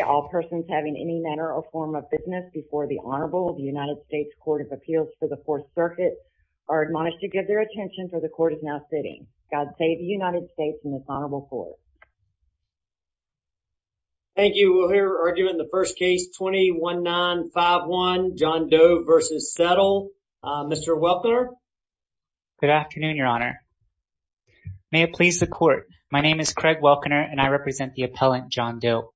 All persons having any manner or form of business before the Honorable United States Court of Appeals for the Fourth Circuit are admonished to give their attention for the court is now sitting. God save the United States and this Honorable Court. Thank you. We'll hear argument in the first case, 21-9-5-1, John Doe v. Settle. Mr. Welkner. Good afternoon, Your Honor. May it please the court, my name is Craig Welkner and I represent the appellant, John Doe.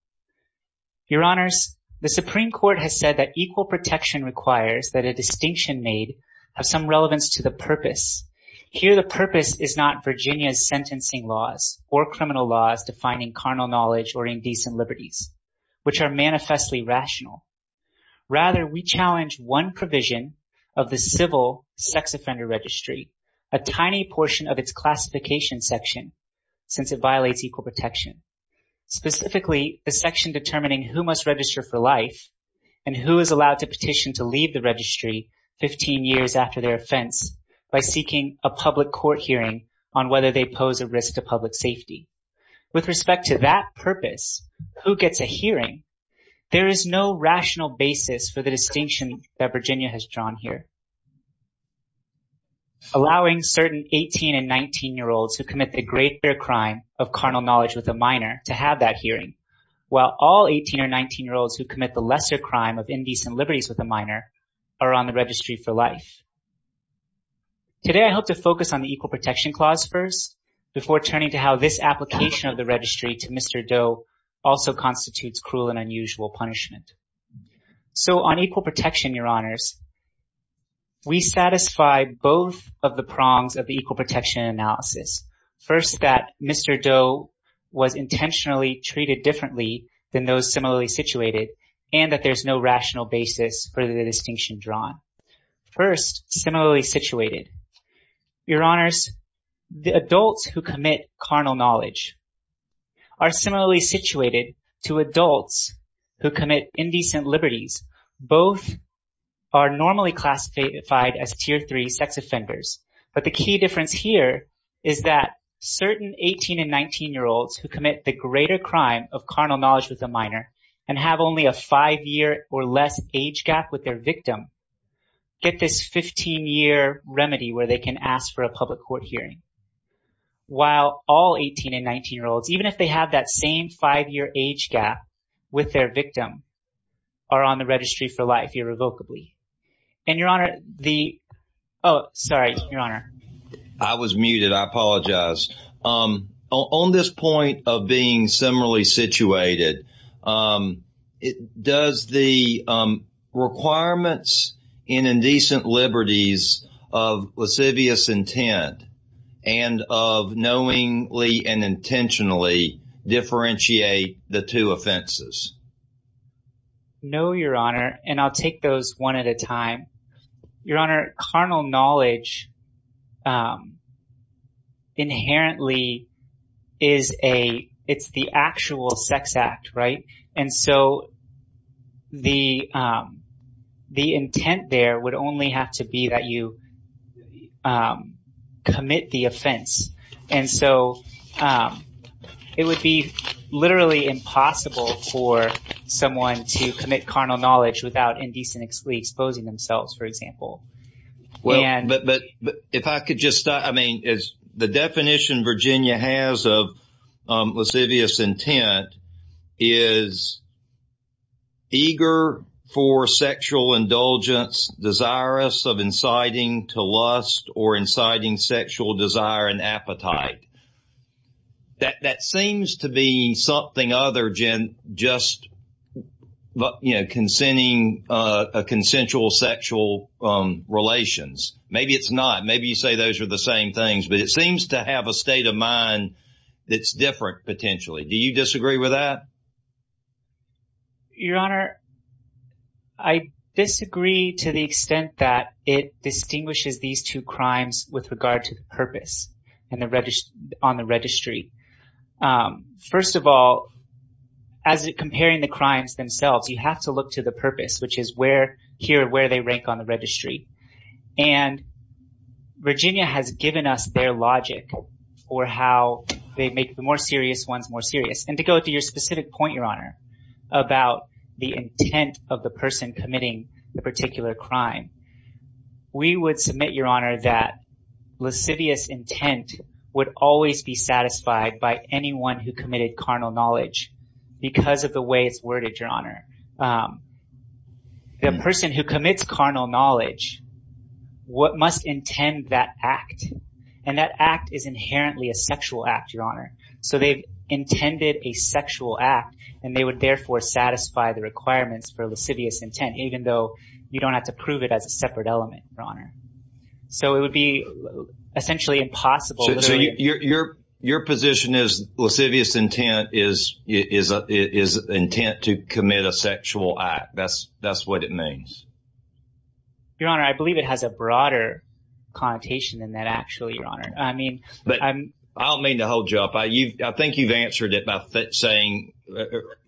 Your Honors, the Supreme Court has said that equal protection requires that a distinction made have some relevance to the purpose. Here the purpose is not Virginia's sentencing laws or criminal laws defining carnal knowledge or indecent liberties, which are manifestly rational. Rather, we challenge one provision of the civil sex offender registry, a tiny portion of its classification section, since it violates equal protection. Specifically, the section determining who must register for life and who is allowed to petition to leave the registry 15 years after their offense by seeking a public court hearing on whether they pose a risk to public safety. With respect to that purpose, who gets a hearing, there is no rational basis for the distinction that Virginia has drawn here. Allowing certain 18 and 19-year-olds who commit the great fair crime of carnal knowledge with a minor to have that hearing, while all 18 or 19-year-olds who commit the lesser crime of indecent liberties with a minor are on the registry for life. Today I hope to focus on the equal protection clause first before turning to how this application of the registry to Mr. Doe also constitutes cruel and unusual punishment. So on equal protection, Your Honors, we satisfy both of the prongs of the equal protection analysis. First, that Mr. Doe was intentionally treated differently than those similarly situated and that there is no rational basis for the distinction drawn. First, similarly situated, Your Honors, the adults who commit carnal knowledge are similarly situated to adults who commit indecent liberties. Both are normally classified as Tier 3 sex offenders, but the key difference here is that certain 18 and 19-year-olds who commit the greater crime of carnal knowledge with a minor and have only a five-year or less age gap with their victim get this 15-year remedy where they can ask for a public court hearing, while all 18 and 19-year-olds, even if they have that same five-year age gap with their victim, are on the registry for life irrevocably. And, Your Honor, the – oh, sorry, Your Honor. I was muted. I apologize. On this point of being similarly situated, does the requirements in indecent liberties of lascivious intent and of knowingly and intentionally differentiate the two offenses? No, Your Honor, and I'll take those one at a time. Your Honor, carnal knowledge inherently is a – it's the actual sex act, right? And so the intent there would only have to be that you commit the offense. And so it would be literally impossible for someone to commit carnal knowledge without indecently exposing themselves, for example. Well, but if I could just – I mean, the definition Virginia has of lascivious intent is eager for sexual indulgence, desirous of inciting to lust or inciting sexual desire and appetite. That seems to be something other than just consenting – consensual sexual relations. Maybe it's not. Maybe you say those are the same things. But it seems to have a state of mind that's different, potentially. Do you disagree with that? Your Honor, I disagree to the extent that it distinguishes these two crimes with regard to the purpose on the registry. First of all, as comparing the crimes themselves, you have to look to the purpose, which is where – here, where they rank on the registry. And Virginia has given us their logic for how they make the more serious ones more serious. And to go to your specific point, Your Honor, about the intent of the person committing the particular crime, we would submit, Your Honor, that lascivious intent would always be satisfied by anyone who committed carnal knowledge because of the way it's worded, Your Honor. The person who commits carnal knowledge must intend that act, and that act is inherently a sexual act, Your Honor. So they've intended a sexual act, and they would therefore satisfy the requirements for lascivious intent, even though you don't have to prove it as a separate element, Your Honor. So it would be essentially impossible – So your position is lascivious intent is intent to commit a sexual act. That's what it means? Your Honor, I believe it has a broader connotation than that, actually, Your Honor. I don't mean to hold you up. I think you've answered it by saying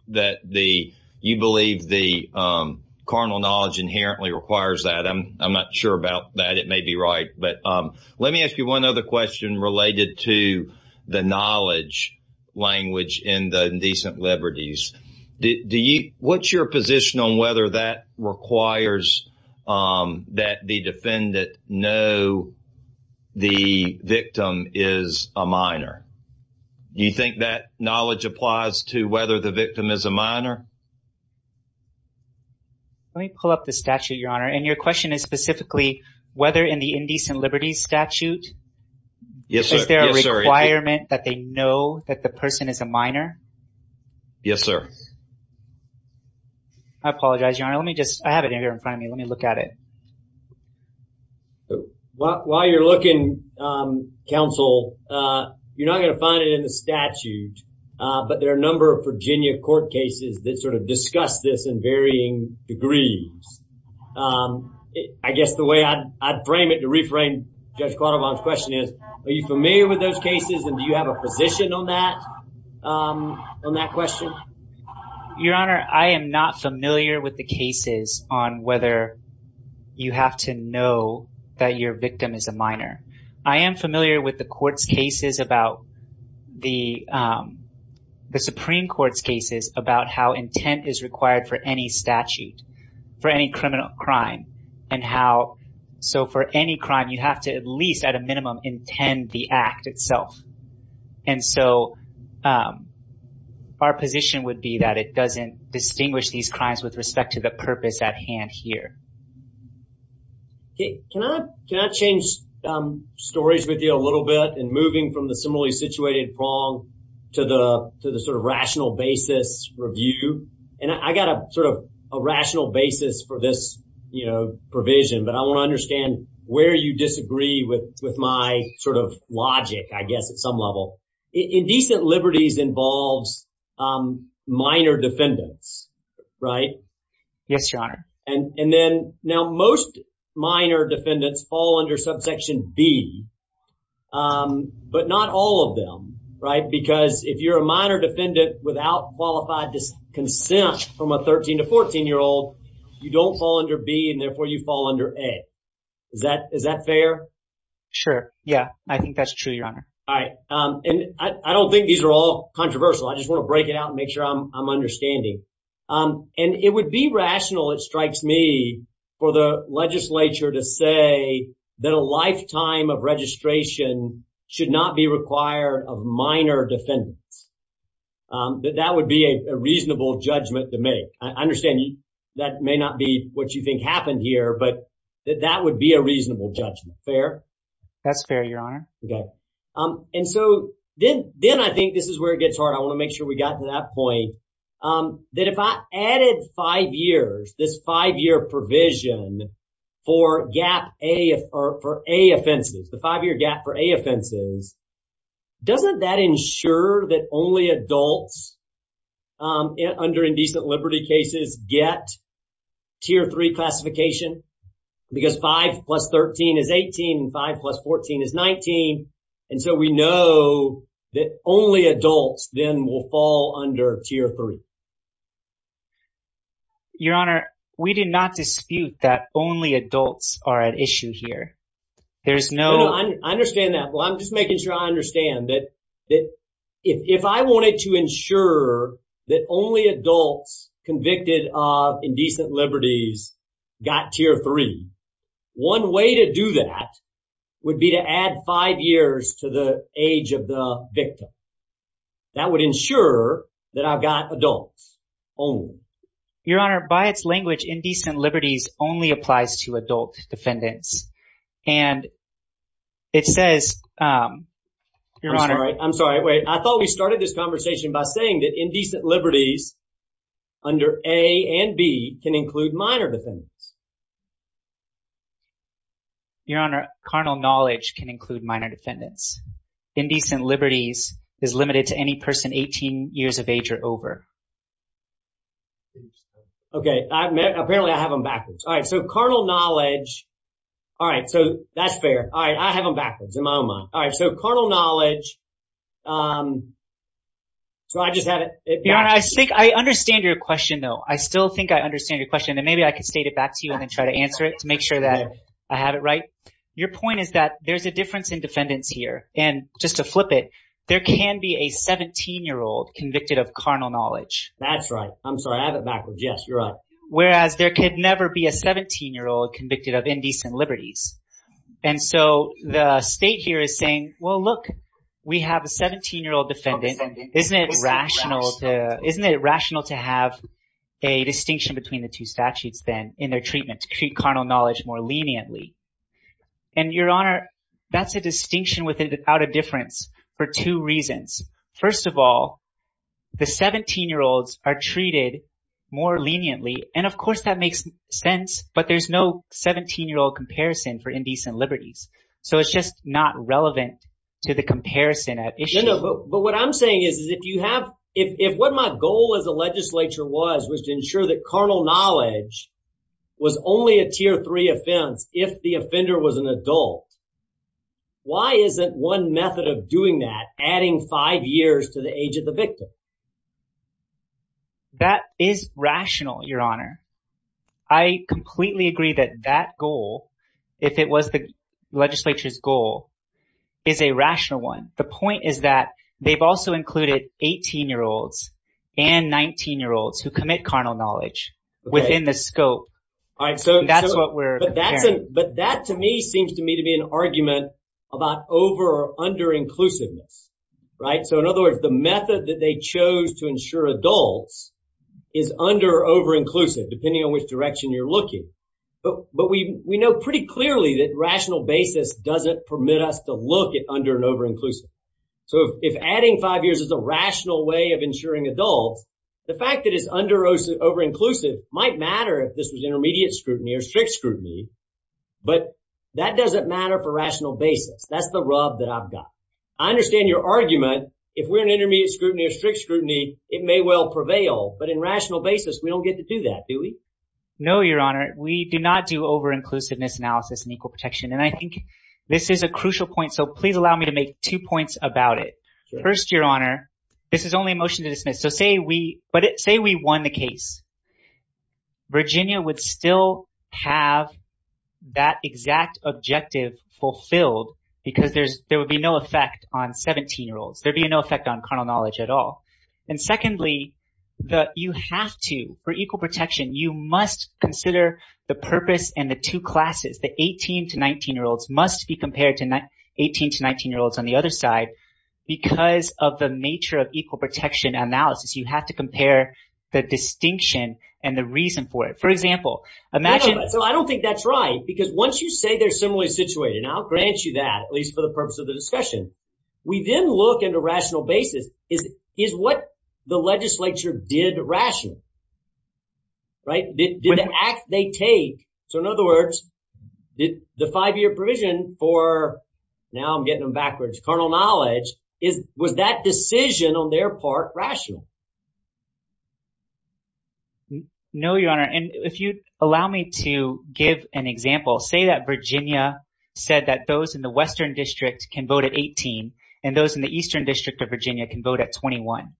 that you believe the carnal knowledge inherently requires that. I'm not sure about that. It may be right. But let me ask you one other question related to the knowledge language in the Indecent Liberties. What's your position on whether that requires that the defendant know the victim is a minor? Do you think that knowledge applies to whether the victim is a minor? Let me pull up the statute, Your Honor. And your question is specifically whether in the Indecent Liberties statute, is there a requirement that they know that the person is a minor? Yes, sir. I apologize, Your Honor. Let me just – I have it here in front of me. Let me look at it. While you're looking, counsel, you're not going to find it in the statute. But there are a number of Virginia court cases that sort of discuss this in varying degrees. I guess the way I'd frame it to reframe Judge Quattlebaum's question is, are you familiar with those cases and do you have a position on that question? Your Honor, I am not familiar with the cases on whether you have to know that your victim is a minor. I am familiar with the court's cases about – the Supreme Court's cases about how intent is required for any statute, for any criminal crime. And how – so for any crime, you have to at least at a minimum intend the act itself. And so our position would be that it doesn't distinguish these crimes with respect to the purpose at hand here. Can I change stories with you a little bit in moving from the similarly situated wrong to the sort of rational basis review? And I got a sort of a rational basis for this provision, but I want to understand where you disagree with my sort of logic, I guess, at some level. Indecent liberties involves minor defendants, right? Yes, Your Honor. And then – now most minor defendants fall under subsection B, but not all of them, right? If you have consent from a 13 to 14-year-old, you don't fall under B and therefore you fall under A. Is that fair? Sure. Yeah, I think that's true, Your Honor. All right. And I don't think these are all controversial. I just want to break it out and make sure I'm understanding. And it would be rational, it strikes me, for the legislature to say that a lifetime of registration should not be required of minor defendants. That would be a reasonable judgment to make. I understand that may not be what you think happened here, but that would be a reasonable judgment. Fair? That's fair, Your Honor. Okay. And so then I think this is where it gets hard. I want to make sure we got to that point. That if I added five years, this five-year provision for gap A – or for A offenses, the five-year gap for A offenses, doesn't that ensure that only adults under indecent liberty cases get Tier 3 classification? Because 5 plus 13 is 18 and 5 plus 14 is 19. And so we know that only adults then will fall under Tier 3. Your Honor, we do not dispute that only adults are at issue here. There's no – One way to do that would be to add five years to the age of the victim. That would ensure that I've got adults only. Your Honor, by its language, indecent liberties only applies to adult defendants. And it says – I'm sorry. Wait. I thought we started this conversation by saying that indecent liberties under A and B can include minor defendants. Your Honor, carnal knowledge can include minor defendants. Indecent liberties is limited to any person 18 years of age or over. Okay. Apparently, I have them backwards. All right. So carnal knowledge – all right. So that's fair. All right. I have them backwards in my own mind. All right. So carnal knowledge – so I just have it – Your Honor, I think – I understand your question though. I still think I understand your question. And maybe I could state it back to you and then try to answer it to make sure that I have it right. Your point is that there's a difference in defendants here. And just to flip it, there can be a 17-year-old convicted of carnal knowledge. That's right. I'm sorry. I have it backwards. Yes, you're right. Whereas, there could never be a 17-year-old convicted of indecent liberties. And so the state here is saying, well, look, we have a 17-year-old defendant. Isn't it rational to have a distinction between the two statutes then in their treatment to treat carnal knowledge more leniently? And, Your Honor, that's a distinction without a difference for two reasons. First of all, the 17-year-olds are treated more leniently. And, of course, that makes sense. But there's no 17-year-old comparison for indecent liberties. So it's just not relevant to the comparison at issue. No, no. But what I'm saying is, is if you have – if what my goal as a legislature was, was to ensure that carnal knowledge was only a Tier 3 offense if the offender was an adult, why isn't one method of doing that adding five years to the age of the victim? That is rational, Your Honor. I completely agree that that goal, if it was the legislature's goal, is a rational one. The point is that they've also included 18-year-olds and 19-year-olds who commit carnal knowledge within the scope. That's what we're comparing. But that, to me, seems to me to be an argument about over- or under-inclusiveness, right? So in other words, the method that they chose to ensure adults is under- or over-inclusive, depending on which direction you're looking. But we know pretty clearly that rational basis doesn't permit us to look at under- and over-inclusive. So if adding five years is a rational way of ensuring adults, the fact that it's under- or over-inclusive might matter if this was intermediate scrutiny or strict scrutiny. But that doesn't matter for rational basis. That's the rub that I've got. I understand your argument. If we're in intermediate scrutiny or strict scrutiny, it may well prevail. But in rational basis, we don't get to do that, do we? No, Your Honor. We do not do over-inclusiveness analysis in equal protection. And I think this is a crucial point, so please allow me to make two points about it. First, Your Honor, this is only a motion to dismiss. So say we won the case. Virginia would still have that exact objective fulfilled because there would be no effect on 17-year-olds. There would be no effect on carnal knowledge at all. And secondly, you have to, for equal protection, you must consider the purpose and the two classes. The 18- to 19-year-olds must be compared to 18- to 19-year-olds on the other side because of the nature of equal protection analysis. You have to compare the distinction and the reason for it. For example, imagine— So I don't think that's right because once you say they're similarly situated, and I'll grant you that at least for the purpose of the discussion, we then look into rational basis is what the legislature did rationally, right? Did the act they take—so in other words, did the five-year provision for— was that decision on their part rational? No, Your Honor. And if you'd allow me to give an example, say that Virginia said that those in the western district can vote at 18 and those in the eastern district of Virginia can vote at 21.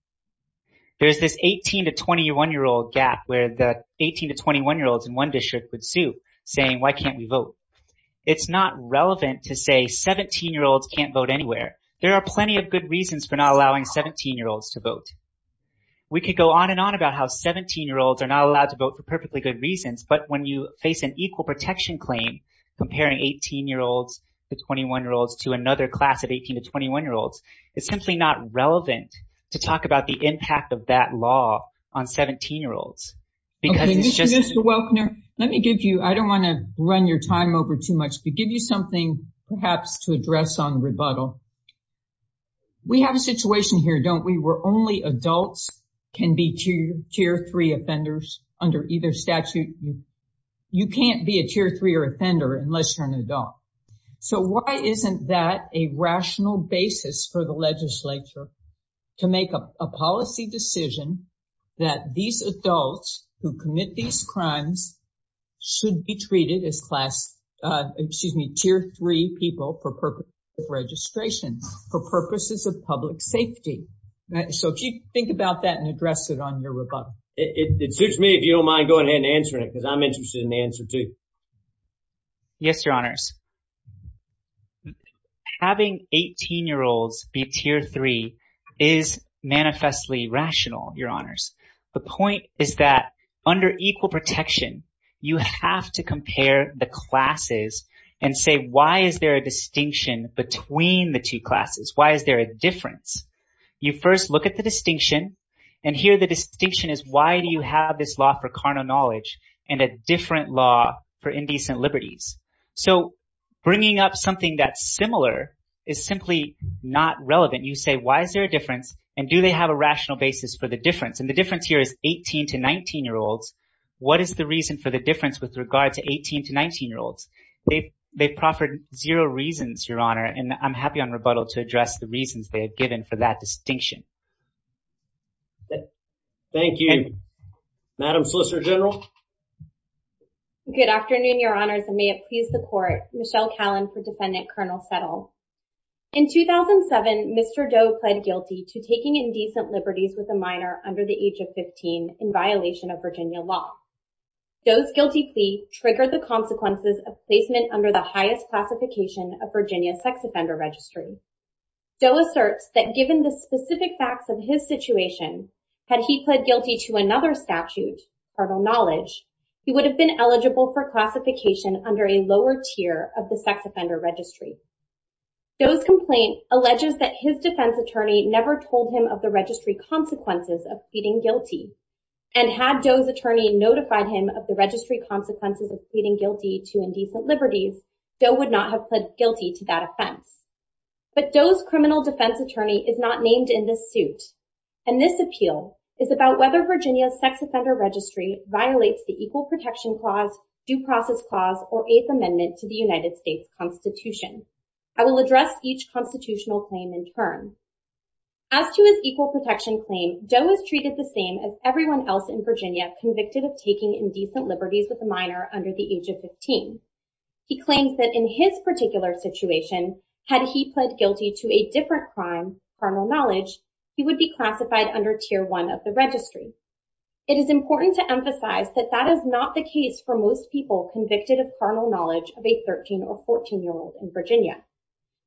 There's this 18- to 21-year-old gap where the 18- to 21-year-olds in one district would sue, saying, why can't we vote? It's not relevant to say 17-year-olds can't vote anywhere. There are plenty of good reasons for not allowing 17-year-olds to vote. We could go on and on about how 17-year-olds are not allowed to vote for perfectly good reasons, but when you face an equal protection claim comparing 18-year-olds to 21-year-olds to another class of 18- to 21-year-olds, it's simply not relevant to talk about the impact of that law on 17-year-olds because it's just— Mr. Welkner, let me give you—I don't want to run your time over too much, but give you something perhaps to address on rebuttal. We have a situation here, don't we, where only adults can be Tier 3 offenders under either statute? You can't be a Tier 3 offender unless you're an adult. So why isn't that a rational basis for the legislature to make a policy decision that these adults who commit these crimes should be treated as Tier 3 people for purposes of registration, for purposes of public safety? So if you think about that and address it on your rebuttal. It suits me if you don't mind going ahead and answering it because I'm interested in the answer too. Yes, Your Honors. Having 18-year-olds be Tier 3 is manifestly rational. Your Honors. The point is that under equal protection, you have to compare the classes and say, why is there a distinction between the two classes? Why is there a difference? You first look at the distinction, and here the distinction is, why do you have this law for carnal knowledge and a different law for indecent liberties? So bringing up something that's similar is simply not relevant. You say, why is there a difference? And do they have a rational basis for the difference? And the difference here is 18- to 19-year-olds. What is the reason for the difference with regard to 18- to 19-year-olds? They proffered zero reasons, Your Honor. And I'm happy on rebuttal to address the reasons they have given for that distinction. Thank you. Madam Solicitor General. Good afternoon, Your Honors, and may it please the Court. Michelle Callan for Defendant Colonel Settle. In 2007, Mr. Doe pled guilty to taking indecent liberties with a minor under the age of 15 in violation of Virginia law. Doe's guilty plea triggered the consequences of placement under the highest classification of Virginia's sex offender registry. Doe asserts that given the specific facts of his situation, had he pled guilty to another statute, carnal knowledge, he would have been eligible for classification under a lower tier of the sex offender registry. Doe's complaint alleges that his defense attorney never told him of the registry consequences of pleading guilty, and had Doe's attorney notified him of the registry consequences of pleading guilty to indecent liberties, Doe would not have pled guilty to that offense. But Doe's criminal defense attorney is not named in this suit, and this appeal is about whether Virginia's sex offender registry violates the Equal Protection Clause, Due Process Clause, or Eighth Amendment to the United States Constitution. I will address each constitutional claim in turn. As to his Equal Protection Claim, Doe is treated the same as everyone else in Virginia convicted of taking indecent liberties with a minor under the age of 15. He claims that in his particular situation, had he pled guilty to a different crime, carnal knowledge, he would be classified under Tier 1 of the registry. It is important to emphasize that that is not the case for most people convicted of carnal knowledge of a 13 or 14-year-old in Virginia.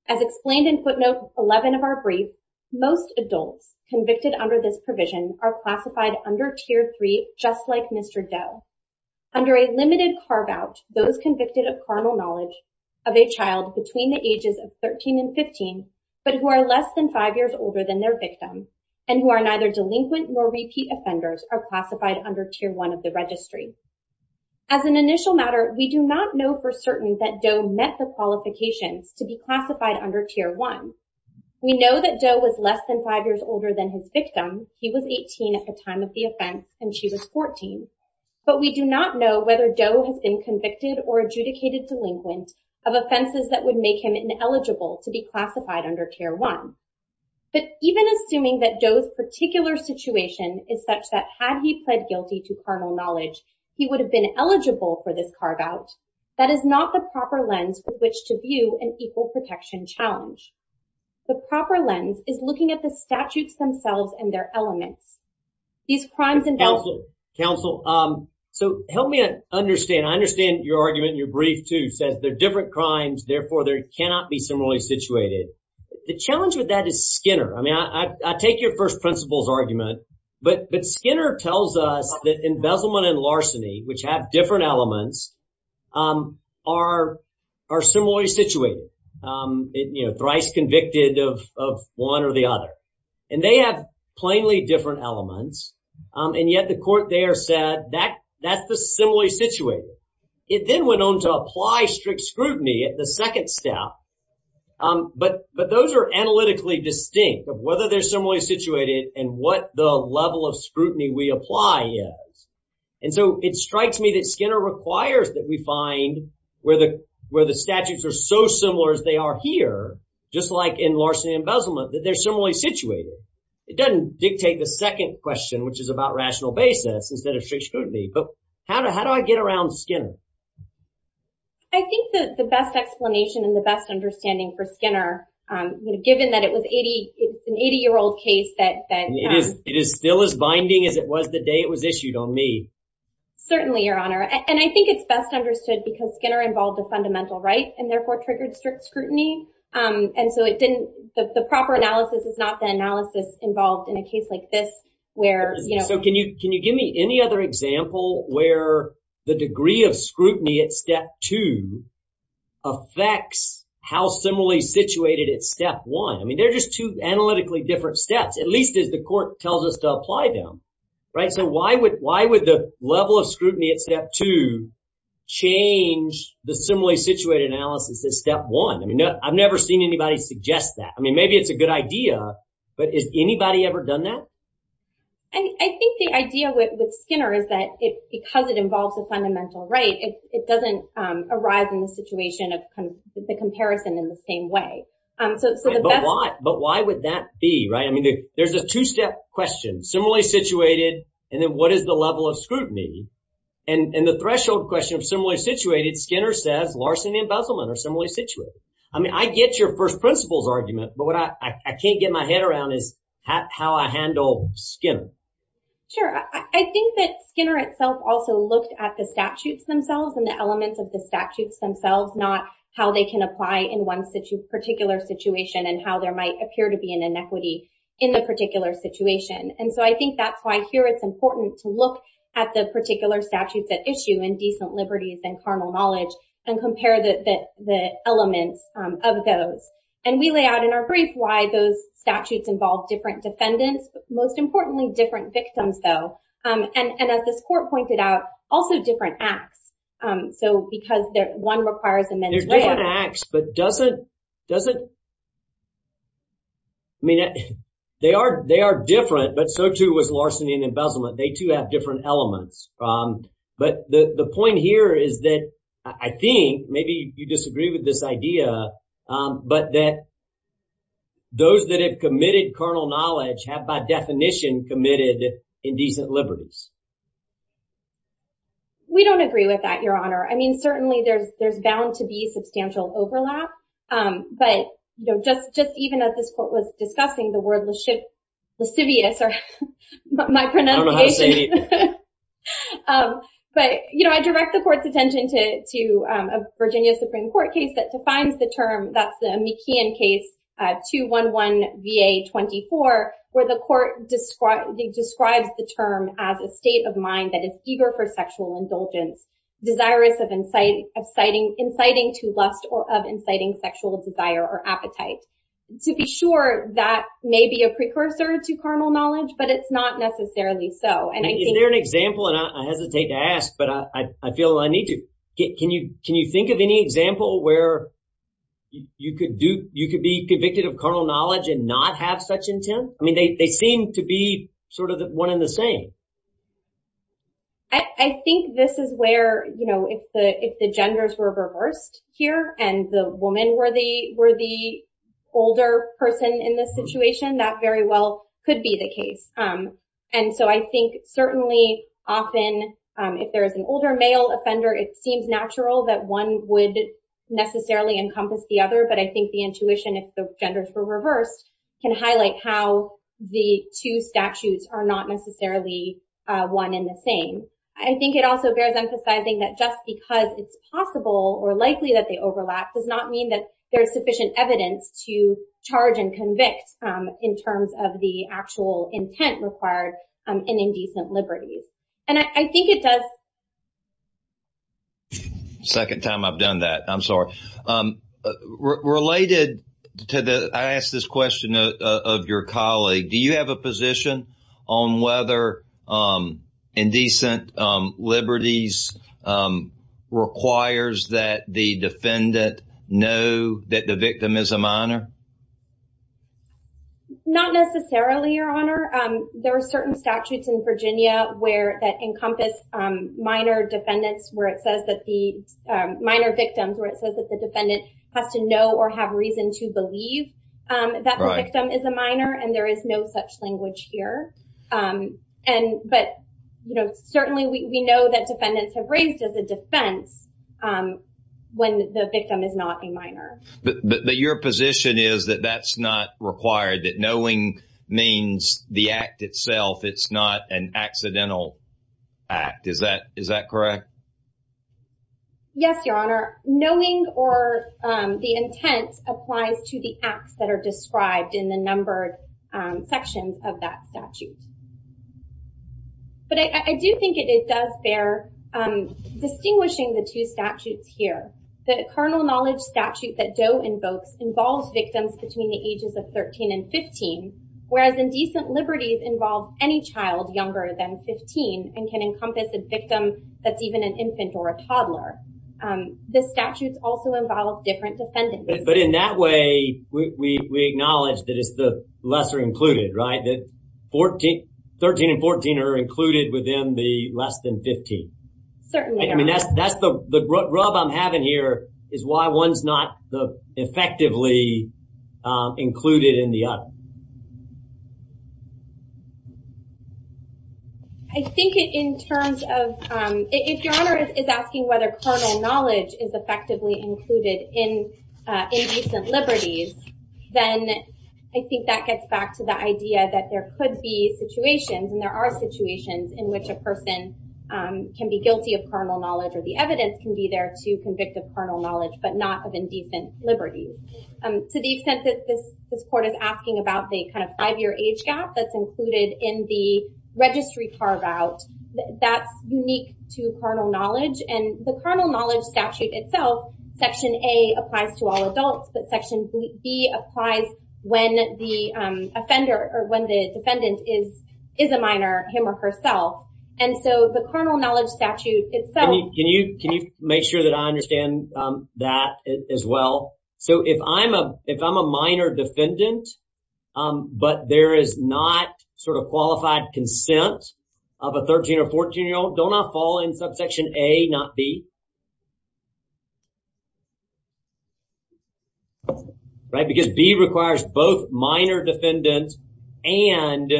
As explained in footnote 11 of our brief, most adults convicted under this provision are classified under Tier 3, just like Mr. Doe. Under a limited carve-out, those convicted of carnal knowledge of a child between the ages of 13 and 15, but who are less than five years older than their victim, and who are neither delinquent nor repeat offenders are classified under Tier 1 of the registry. As an initial matter, we do not know for certain that Doe met the qualifications to be classified under Tier 1. We know that Doe was less than five years older than his victim. He was 18 at the time of the offense, and she was 14. But we do not know whether Doe has been convicted or adjudicated delinquent of offenses that would make him ineligible to be classified under Tier 1. But even assuming that Doe's particular situation is such that had he pled guilty to carnal knowledge, he would have been eligible for this carve-out, that is not the proper lens with which to view an equal protection challenge. The proper lens is looking at the statutes themselves and their elements. Counsel, so help me understand. I understand your argument in your brief, too, says they're different crimes, therefore they cannot be similarly situated. The challenge with that is Skinner. I mean, I take your first principles argument, but Skinner tells us that embezzlement and larceny, which have different elements, are similarly situated, you know, thrice convicted of one or the other. And they have plainly different elements, and yet the court there said that's the similarly situated. It then went on to apply strict scrutiny at the second step. But those are analytically distinct of whether they're similarly situated and what the level of scrutiny we apply is. And so it strikes me that Skinner requires that we find where the statutes are so similar as they are here, just like in larceny and embezzlement, that they're similarly situated. It doesn't dictate the second question, which is about rational basis instead of strict scrutiny. But how do I get around Skinner? I think that the best explanation and the best understanding for Skinner, given that it was an 80-year-old case that— It is still as binding as it was the day it was issued on me. Certainly, Your Honor. And I think it's best understood because Skinner involved a fundamental right and therefore triggered strict scrutiny. And so it didn't—the proper analysis is not the analysis involved in a case like this where— So can you give me any other example where the degree of scrutiny at step two affects how similarly situated at step one? I mean, they're just two analytically different steps, at least as the court tells us to apply them. So why would the level of scrutiny at step two change the similarly situated analysis at step one? I mean, I've never seen anybody suggest that. I mean, maybe it's a good idea, but has anybody ever done that? I think the idea with Skinner is that because it involves a fundamental right, it doesn't arise in the situation of the comparison in the same way. But why would that be, right? I mean, there's a two-step question, similarly situated, and then what is the level of scrutiny? And the threshold question of similarly situated, Skinner says Larson and Besselman are similarly situated. I mean, I get your first principles argument, but what I can't get my head around is how I handle Skinner. Sure. I think that Skinner itself also looked at the statutes themselves and the elements of the statutes themselves, not how they can apply in one particular situation and how there might appear to be an inequity in the particular situation. And so I think that's why here it's important to look at the particular statutes at issue and decent liberties and carnal knowledge and compare the elements of those. And we lay out in our brief why those statutes involve different defendants, but most importantly, different victims, though. And as this court pointed out, also different acts. So because one requires a men's right. They're different acts, but doesn't... I mean, they are different, but so, too, was Larson and Besselman. They, too, have different elements. But the point here is that I think maybe you disagree with this idea, but that those that have committed carnal knowledge have by definition committed indecent liberties. We don't agree with that, Your Honor. I mean, certainly, there's bound to be substantial overlap, but just even as this court was discussing the word lascivious or my pronunciation. I don't know how to say it. But, you know, I direct the court's attention to a Virginia Supreme Court case that defines the term. That's the McKeon case, 2-1-1-VA-24, where the court describes the term as a state of mind that is eager for sexual indulgence, desirous of inciting to lust or of inciting sexual desire or appetite. To be sure, that may be a precursor to carnal knowledge, but it's not necessarily so. And I think... Is there an example, and I hesitate to ask, but I feel I need to. Can you think of any example where you could be convicted of carnal knowledge and not have such intent? I mean, they seem to be sort of one in the same. I think this is where, you know, if the genders were reversed here and the woman were the older person in this situation, and so I think certainly often if there is an older male offender, it seems natural that one would necessarily encompass the other. But I think the intuition, if the genders were reversed, can highlight how the two statutes are not necessarily one in the same. I think it also bears emphasizing that just because it's possible or likely that they overlap does not mean that there is sufficient evidence to charge and convict in terms of the actual intent required in indecent liberties. And I think it does... Second time I've done that. I'm sorry. Related to the... I asked this question of your colleague. Do you have a position on whether indecent liberties requires that the defendant know that the victim is a minor? Not necessarily, Your Honor. There are certain statutes in Virginia that encompass minor victims where it says that the defendant has to know or have reason to believe that the victim is a minor and there is no such language here. But certainly we know that defendants have raised as a defense when the victim is not a minor. But your position is that that's not required, that knowing means the act itself. It's not an accidental act. Is that correct? Yes, Your Honor. Knowing or the intent applies to the acts that are described in the numbered sections of that statute. But I do think it does bear distinguishing the two statutes here. The carnal knowledge statute that Doe invokes involves victims between the ages of 13 and 15, whereas indecent liberties involve any child younger than 15 and can encompass a victim that's even an infant or a toddler. The statutes also involve different defendants. But in that way, we acknowledge that it's the lesser included, right? That 13 and 14 are included within the less than 15. Certainly, Your Honor. I mean, that's the rub I'm having here is why one's not effectively included in the other. I think in terms of... If Your Honor is asking whether carnal knowledge is effectively included in indecent liberties, then I think that gets back to the idea that there could be situations, and there are situations in which a person can be guilty of carnal knowledge or the evidence can be there to convict of carnal knowledge but not of indecent liberties. To the extent that this court is asking about the kind of five-year age gap that's included in the registry carve-out, that's unique to carnal knowledge. And the carnal knowledge statute itself, Section A applies to all adults, but Section B applies when the defendant is a minor, him or herself. And so the carnal knowledge statute itself... Can you make sure that I understand that as well? So if I'm a minor defendant, but there is not sort of qualified consent of a 13- or 14-year-old, don't I fall in subsection A, not B? Right, because B requires both minor defendants and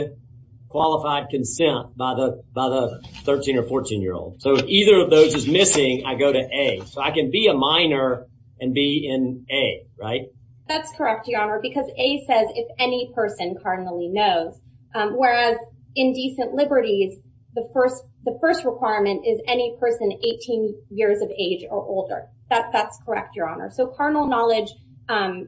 qualified consent by the 13- or 14-year-old. So if either of those is missing, I go to A. So I can be a minor and be in A, right? That's correct, Your Honor, because A says if any person cardinally knows, whereas indecent liberties, the first requirement is any person 18 years of age or older. That's correct, Your Honor. So carnal knowledge,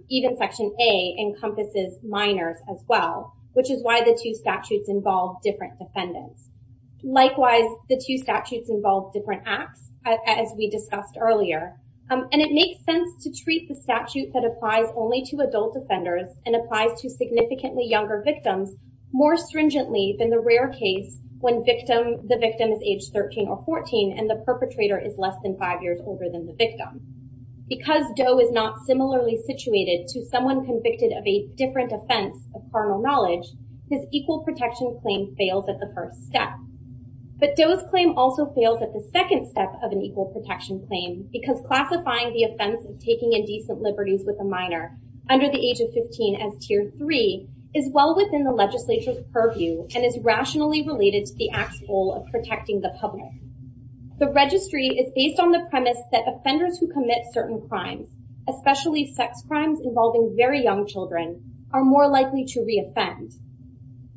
even Section A, encompasses minors as well, which is why the two statutes involve different defendants. Likewise, the two statutes involve different acts, as we discussed earlier. And it makes sense to treat the statute that applies only to adult offenders and applies to significantly younger victims more stringently than the rare case when the victim is age 13 or 14 and the perpetrator is less than five years older than the victim. Because Doe is not similarly situated to someone convicted of a different offense of carnal knowledge, his equal protection claim fails at the first step. But Doe's claim also fails at the second step of an equal protection claim because classifying the offense of taking indecent liberties with a minor under the age of 15 as Tier 3 is well within the legislature's purview and is rationally related to the Act's goal of protecting the public. The registry is based on the premise that offenders who commit certain crimes, especially sex crimes involving very young children, are more likely to re-offend.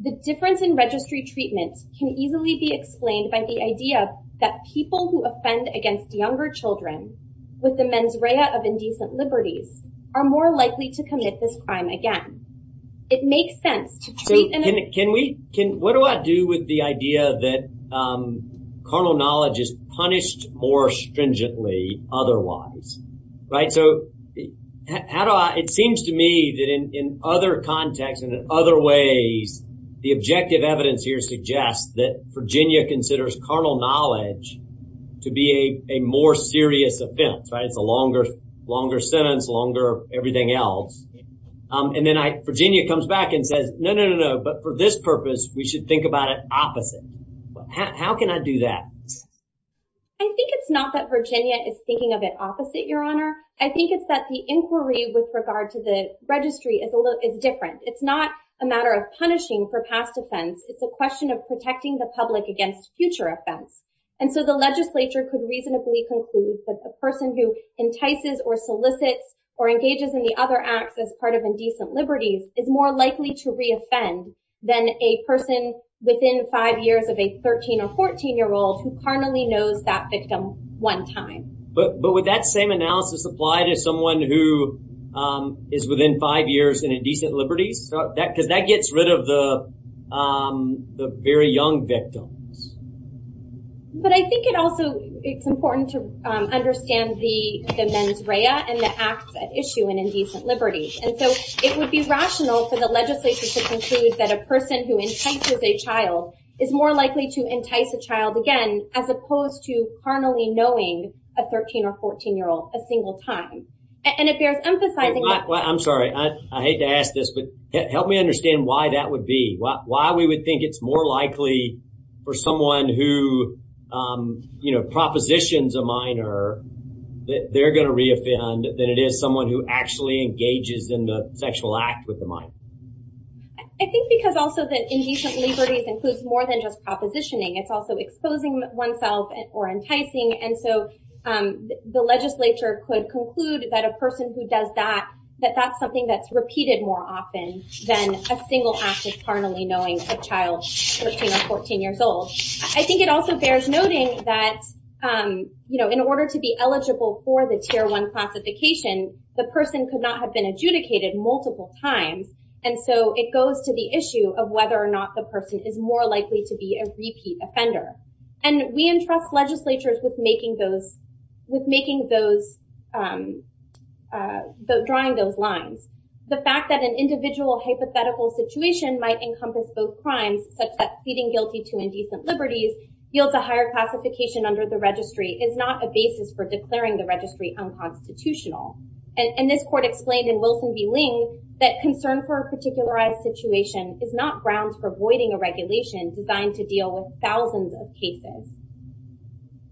The difference in registry treatment can easily be explained by the idea that people who offend against younger children with the mens rea of indecent liberties are more likely to commit this crime again. It makes sense to treat— So what do I do with the idea that carnal knowledge is punished more stringently otherwise? So how do I— It seems to me that in other contexts and in other ways, the objective evidence here suggests that Virginia considers carnal knowledge to be a more serious offense. It's a longer sentence, longer everything else. And then Virginia comes back and says, no, no, no, no, but for this purpose, we should think about it opposite. How can I do that? I think it's not that Virginia is thinking of it opposite, Your Honor. I think it's that the inquiry with regard to the registry is different. It's not a matter of punishing for past offense. It's a question of protecting the public against future offense. And so the legislature could reasonably conclude that the person who entices or solicits or engages in the other acts as part of indecent liberties is more likely to re-offend than a person within five years of a 13 or 14-year-old who carnally knows that victim one time. But would that same analysis apply to someone who is within five years in indecent liberties? Because that gets rid of the very young victims. But I think it also—it's important to understand the mens rea and the acts at issue in indecent liberties. And so it would be rational for the legislature to conclude that a person who entices a child is more likely to entice a child again as opposed to carnally knowing a 13 or 14-year-old a single time. And it bears emphasizing— I'm sorry. I hate to ask this, but help me understand why that would be, why we would think it's more likely for someone who, you know, propositions a minor that they're going to re-offend than it is someone who actually engages in the sexual act with the minor. I think because also that indecent liberties includes more than just propositioning. It's also exposing oneself or enticing. And so the legislature could conclude that a person who does that, that that's something that's repeated more often than a single act of carnally knowing a child 13 or 14 years old. I think it also bears noting that, you know, in order to be eligible for the Tier 1 classification, the person could not have been adjudicated multiple times. And so it goes to the issue of whether or not the person is more likely to be a repeat offender. And we entrust legislatures with making those—with making those—drawing those lines. The fact that an individual hypothetical situation might encompass both crimes, such that feeding guilty to indecent liberties yields a higher classification under the registry, is not a basis for declaring the registry unconstitutional. And this court explained in Wilson v. Ling that concern for a particularized situation is not grounds for voiding a regulation designed to deal with thousands of cases.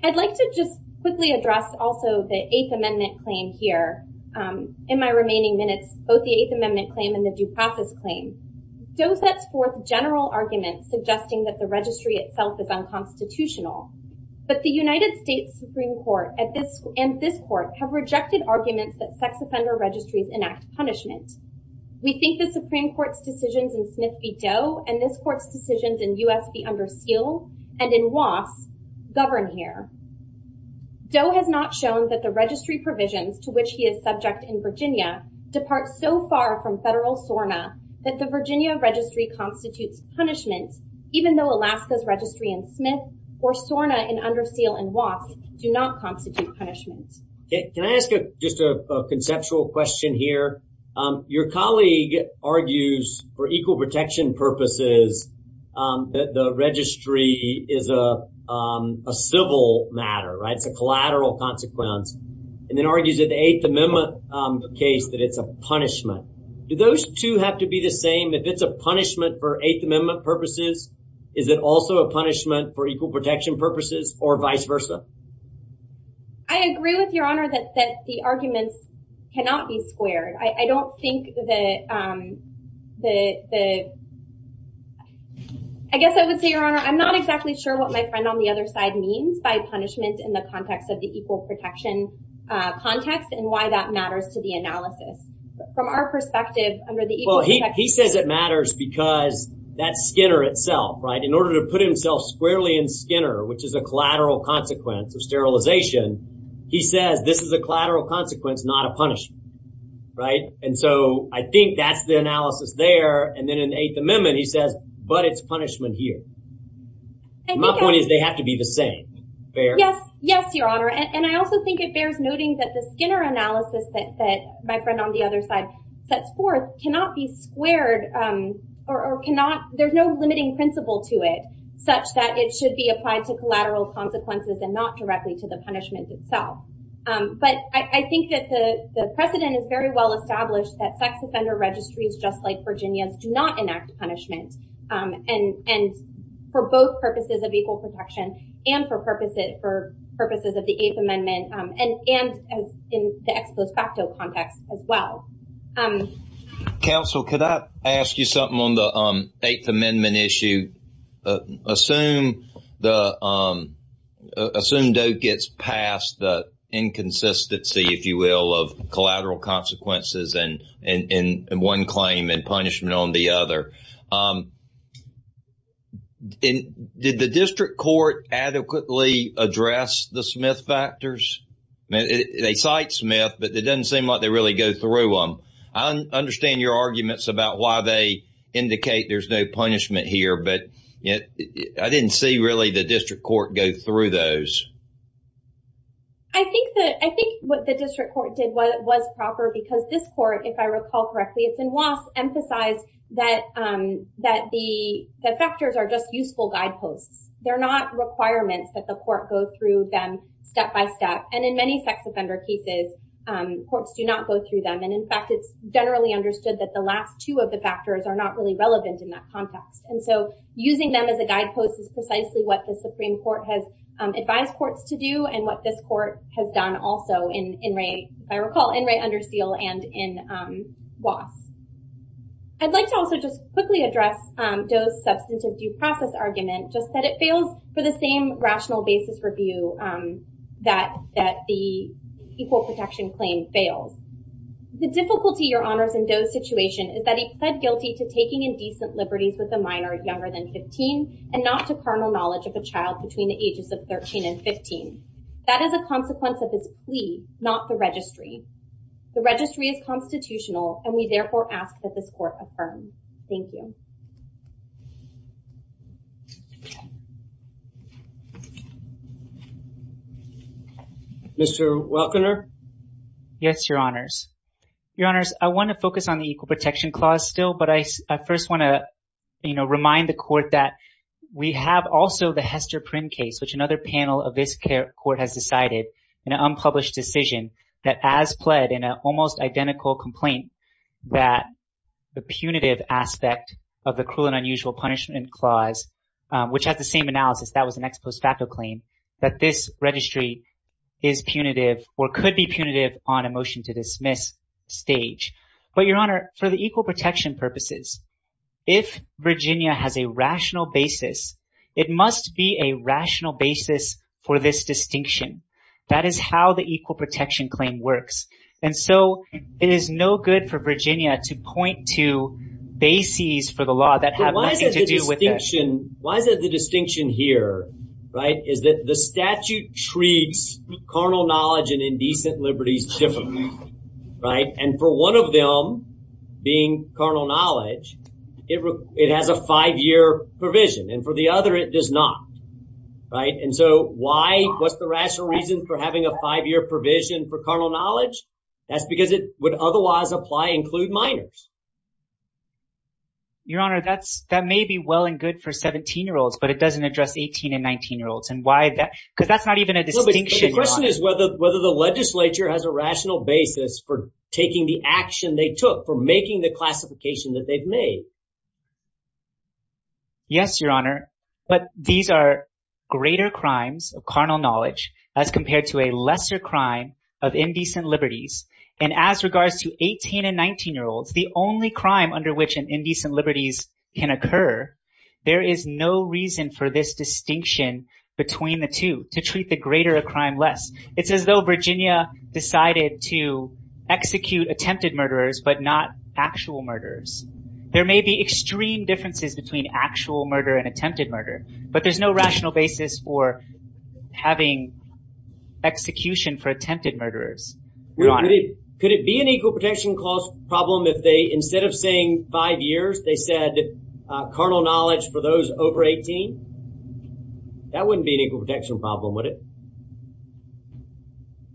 I'd like to just quickly address also the Eighth Amendment claim here. In my remaining minutes, both the Eighth Amendment claim and the due process claim, Doe sets forth general arguments suggesting that the registry itself is unconstitutional. But the United States Supreme Court and this court have rejected arguments that sex offender registries enact punishment. We think the Supreme Court's decisions in Smith v. Doe and this court's decisions in U.S. v. Under Seal and in Wass govern here. Doe has not shown that the registry provisions to which he is subject in Virginia depart so far from federal SORNA that the Virginia registry constitutes punishment, even though Alaska's registry in Smith or SORNA in Under Seal and Wass do not constitute punishment. Can I ask just a conceptual question here? Your colleague argues for equal protection purposes that the registry is a civil matter. It's a collateral consequence. And then argues that the Eighth Amendment case, that it's a punishment. Do those two have to be the same? If it's a punishment for Eighth Amendment purposes, is it also a punishment for equal protection purposes or vice versa? I agree with your honor that the arguments cannot be squared. I don't think that the. I guess I would say, your honor, I'm not exactly sure what my friend on the other side means by punishment in the context of the equal protection context and why that matters to the analysis. But from our perspective under the. Well, he says it matters because that Skinner itself. Right. In order to put himself squarely in Skinner, which is a collateral consequence of sterilization. He says this is a collateral consequence, not a punishment. Right. And so I think that's the analysis there. And then in the Eighth Amendment, he says, but it's punishment here. My point is they have to be the same. Yes. Yes, your honor. And I also think it bears noting that the Skinner analysis that my friend on the other side sets forth cannot be squared or cannot. There's no limiting principle to it such that it should be applied to collateral consequences and not directly to the punishment itself. But I think that the precedent is very well established that sex offender registries just like Virginia's do not enact punishment. And for both purposes of equal protection and for purposes of the Eighth Amendment and in the ex post facto context as well. Counsel, could I ask you something on the Eighth Amendment issue? Assume the assumed gets past the inconsistency, if you will, of collateral consequences and in one claim and punishment on the other. Did the district court adequately address the Smith factors? They cite Smith, but it doesn't seem like they really go through them. I understand your arguments about why they indicate there's no punishment here. But I didn't see really the district court go through those. I think that I think what the district court did was proper because this court, if I recall correctly, it's in loss. Emphasize that that the factors are just useful guideposts. They're not requirements that the court go through them step by step. And in many sex offender cases, courts do not go through them. And in fact, it's generally understood that the last two of the factors are not really relevant in that context. And so using them as a guidepost is precisely what the Supreme Court has advised courts to do. And what this court has done also in rate, if I recall, in rate under seal and in loss. I'd like to also just quickly address those substantive due process argument, just that it fails for the same rational basis review that that the equal protection claim fails. The difficulty, your honors, in those situation is that he pled guilty to taking indecent liberties with a minor younger than 15 and not to carnal knowledge of a child between the ages of 13 and 15. That is a consequence of his plea, not the registry. The registry is constitutional, and we therefore ask that this court affirm. Thank you. Mr. Welkner. Yes, your honors. Your honors, I want to focus on the equal protection clause still. But I first want to remind the court that we have also the Hester Prynne case, which another panel of this court has decided in an unpublished decision. That as pled in an almost identical complaint that the punitive aspect of the cruel and unusual punishment clause, which has the same analysis. That was the next post facto claim that this registry is punitive or could be punitive on a motion to dismiss stage. But your honor, for the equal protection purposes, if Virginia has a rational basis, it must be a rational basis for this distinction. That is how the equal protection claim works. And so it is no good for Virginia to point to bases for the law that have nothing to do with it. Why is that the distinction here? Right. Is that the statute treats carnal knowledge and indecent liberties differently. Right. And for one of them being carnal knowledge, it has a five year provision and for the other, it does not. Right. And so why? What's the rational reason for having a five year provision for carnal knowledge? That's because it would otherwise apply include minors. Your honor, that's that may be well and good for 17 year olds, but it doesn't address 18 and 19 year olds. And why? Because that's not even a distinction. The question is whether whether the legislature has a rational basis for taking the action they took for making the classification that they've made. Yes, your honor. But these are greater crimes of carnal knowledge as compared to a lesser crime of indecent liberties. And as regards to 18 and 19 year olds, the only crime under which an indecent liberties can occur. There is no reason for this distinction between the two to treat the greater a crime less. It's as though Virginia decided to execute attempted murderers, but not actual murderers. There may be extreme differences between actual murder and attempted murder, but there's no rational basis for having execution for attempted murderers. Could it be an equal protection clause problem if they instead of saying five years, they said carnal knowledge for those over 18? That wouldn't be an equal protection problem, would it?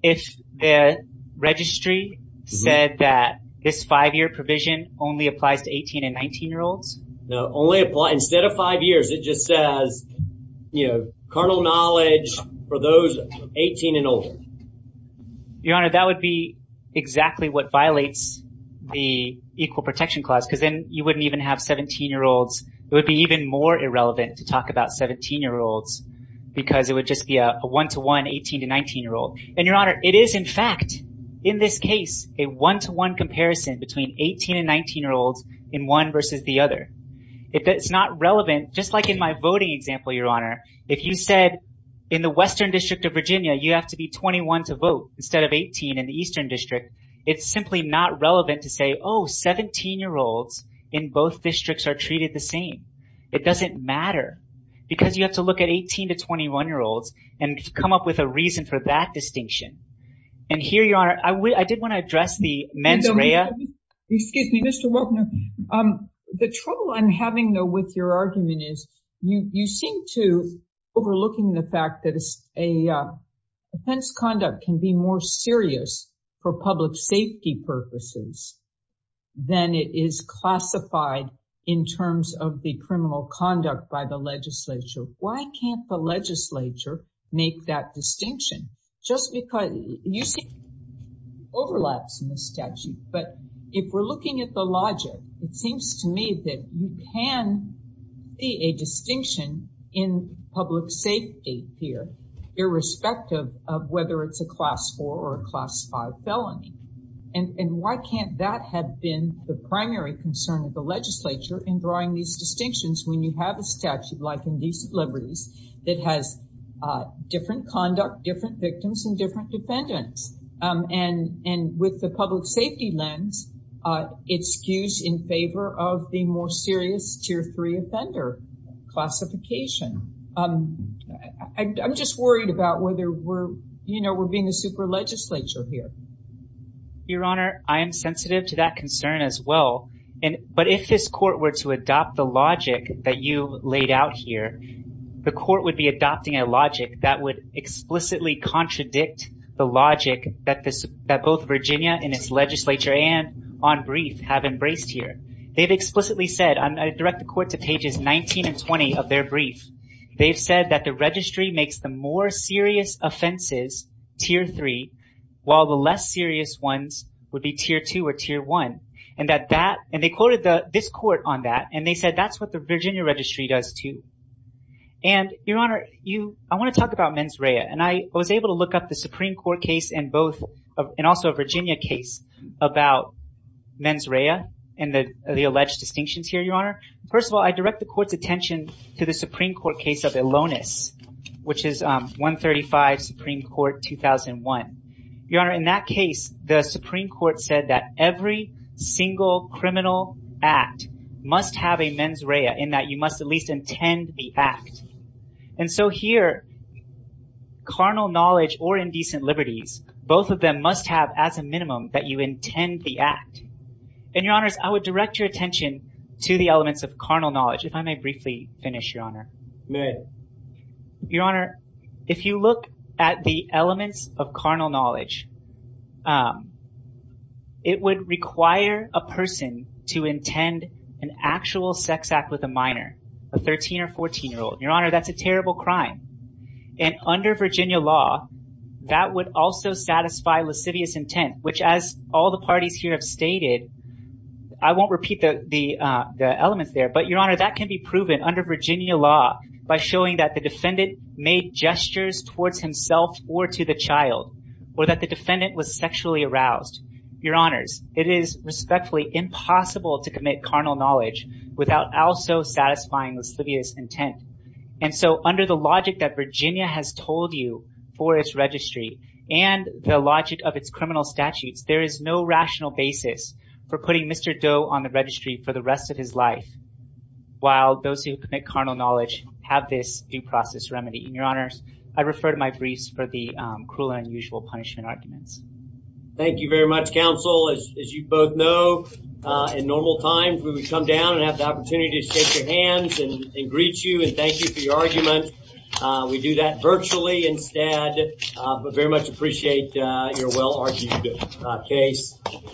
If the registry said that this five year provision only applies to 18 and 19 year olds? No, only apply instead of five years, it just says, you know, carnal knowledge for those 18 and older. Your honor, that would be exactly what violates the equal protection clause, because then you wouldn't even have 17 year olds. It would be even more irrelevant to talk about 17 year olds because it would just be a one to one 18 to 19 year old. And your honor, it is, in fact, in this case, a one to one comparison between 18 and 19 year olds in one versus the other. If it's not relevant, just like in my voting example, your honor, if you said in the western district of Virginia, you have to be 21 to vote instead of 18 in the eastern district. It's simply not relevant to say, oh, 17 year olds in both districts are treated the same. It doesn't matter because you have to look at 18 to 21 year olds and come up with a reason for that distinction. And here you are. I did want to address the men's area. Excuse me, Mr. Walker. The trouble I'm having, though, with your argument is you seem to overlooking the fact that it's a offense. Conduct can be more serious for public safety purposes than it is classified in terms of the criminal conduct by the legislature. Why can't the legislature make that distinction just because you see overlaps in the statute? But if we're looking at the logic, it seems to me that you can see a distinction in public safety here, irrespective of whether it's a class for or classified felony. And why can't that have been the primary concern of the legislature in drawing these distinctions when you have a statute like Indecent Liberties that has different conduct, different victims and different defendants? And and with the public safety lens, it skews in favor of the more serious tier three offender classification. I'm just worried about whether we're, you know, we're being a super legislature here. Your Honor, I am sensitive to that concern as well. And but if this court were to adopt the logic that you laid out here, the court would be adopting a logic that would explicitly contradict the logic that this both Virginia and its legislature and on brief have embraced here. They've explicitly said I direct the court to pages 19 and 20 of their brief. They've said that the registry makes the more serious offenses tier three, while the less serious ones would be tier two or tier one. And that that and they quoted this court on that. And they said that's what the Virginia registry does, too. And, Your Honor, you I want to talk about mens rea. And I was able to look up the Supreme Court case and both and also a Virginia case about mens rea and the alleged distinctions here, Your Honor. First of all, I direct the court's attention to the Supreme Court case of Elonis, which is one thirty five Supreme Court two thousand one. Your Honor, in that case, the Supreme Court said that every single criminal act must have a mens rea in that you must at least intend the act. And so here. Carnal knowledge or indecent liberties, both of them must have as a minimum that you intend the act. And your honors, I would direct your attention to the elements of carnal knowledge. If I may briefly finish, Your Honor. Your Honor, if you look at the elements of carnal knowledge. It would require a person to intend an actual sex act with a minor, a 13 or 14 year old. Your Honor, that's a terrible crime. And under Virginia law, that would also satisfy lascivious intent, which, as all the parties here have stated. I won't repeat the elements there, but your honor, that can be proven under Virginia law by showing that the defendant made gestures towards himself or to the child or that the defendant was sexually aroused. Your honors, it is respectfully impossible to commit carnal knowledge without also satisfying lascivious intent. And so under the logic that Virginia has told you for its registry and the logic of its criminal statutes, there is no rational basis for putting Mr. Doe on the registry for the rest of his life. While those who commit carnal knowledge have this due process remedy. And your honors, I refer to my briefs for the cruel and unusual punishment arguments. Thank you very much, counsel. As you both know, in normal times, we would come down and have the opportunity to shake your hands and greet you and thank you for your argument. We do that virtually instead, but very much appreciate your well argued case.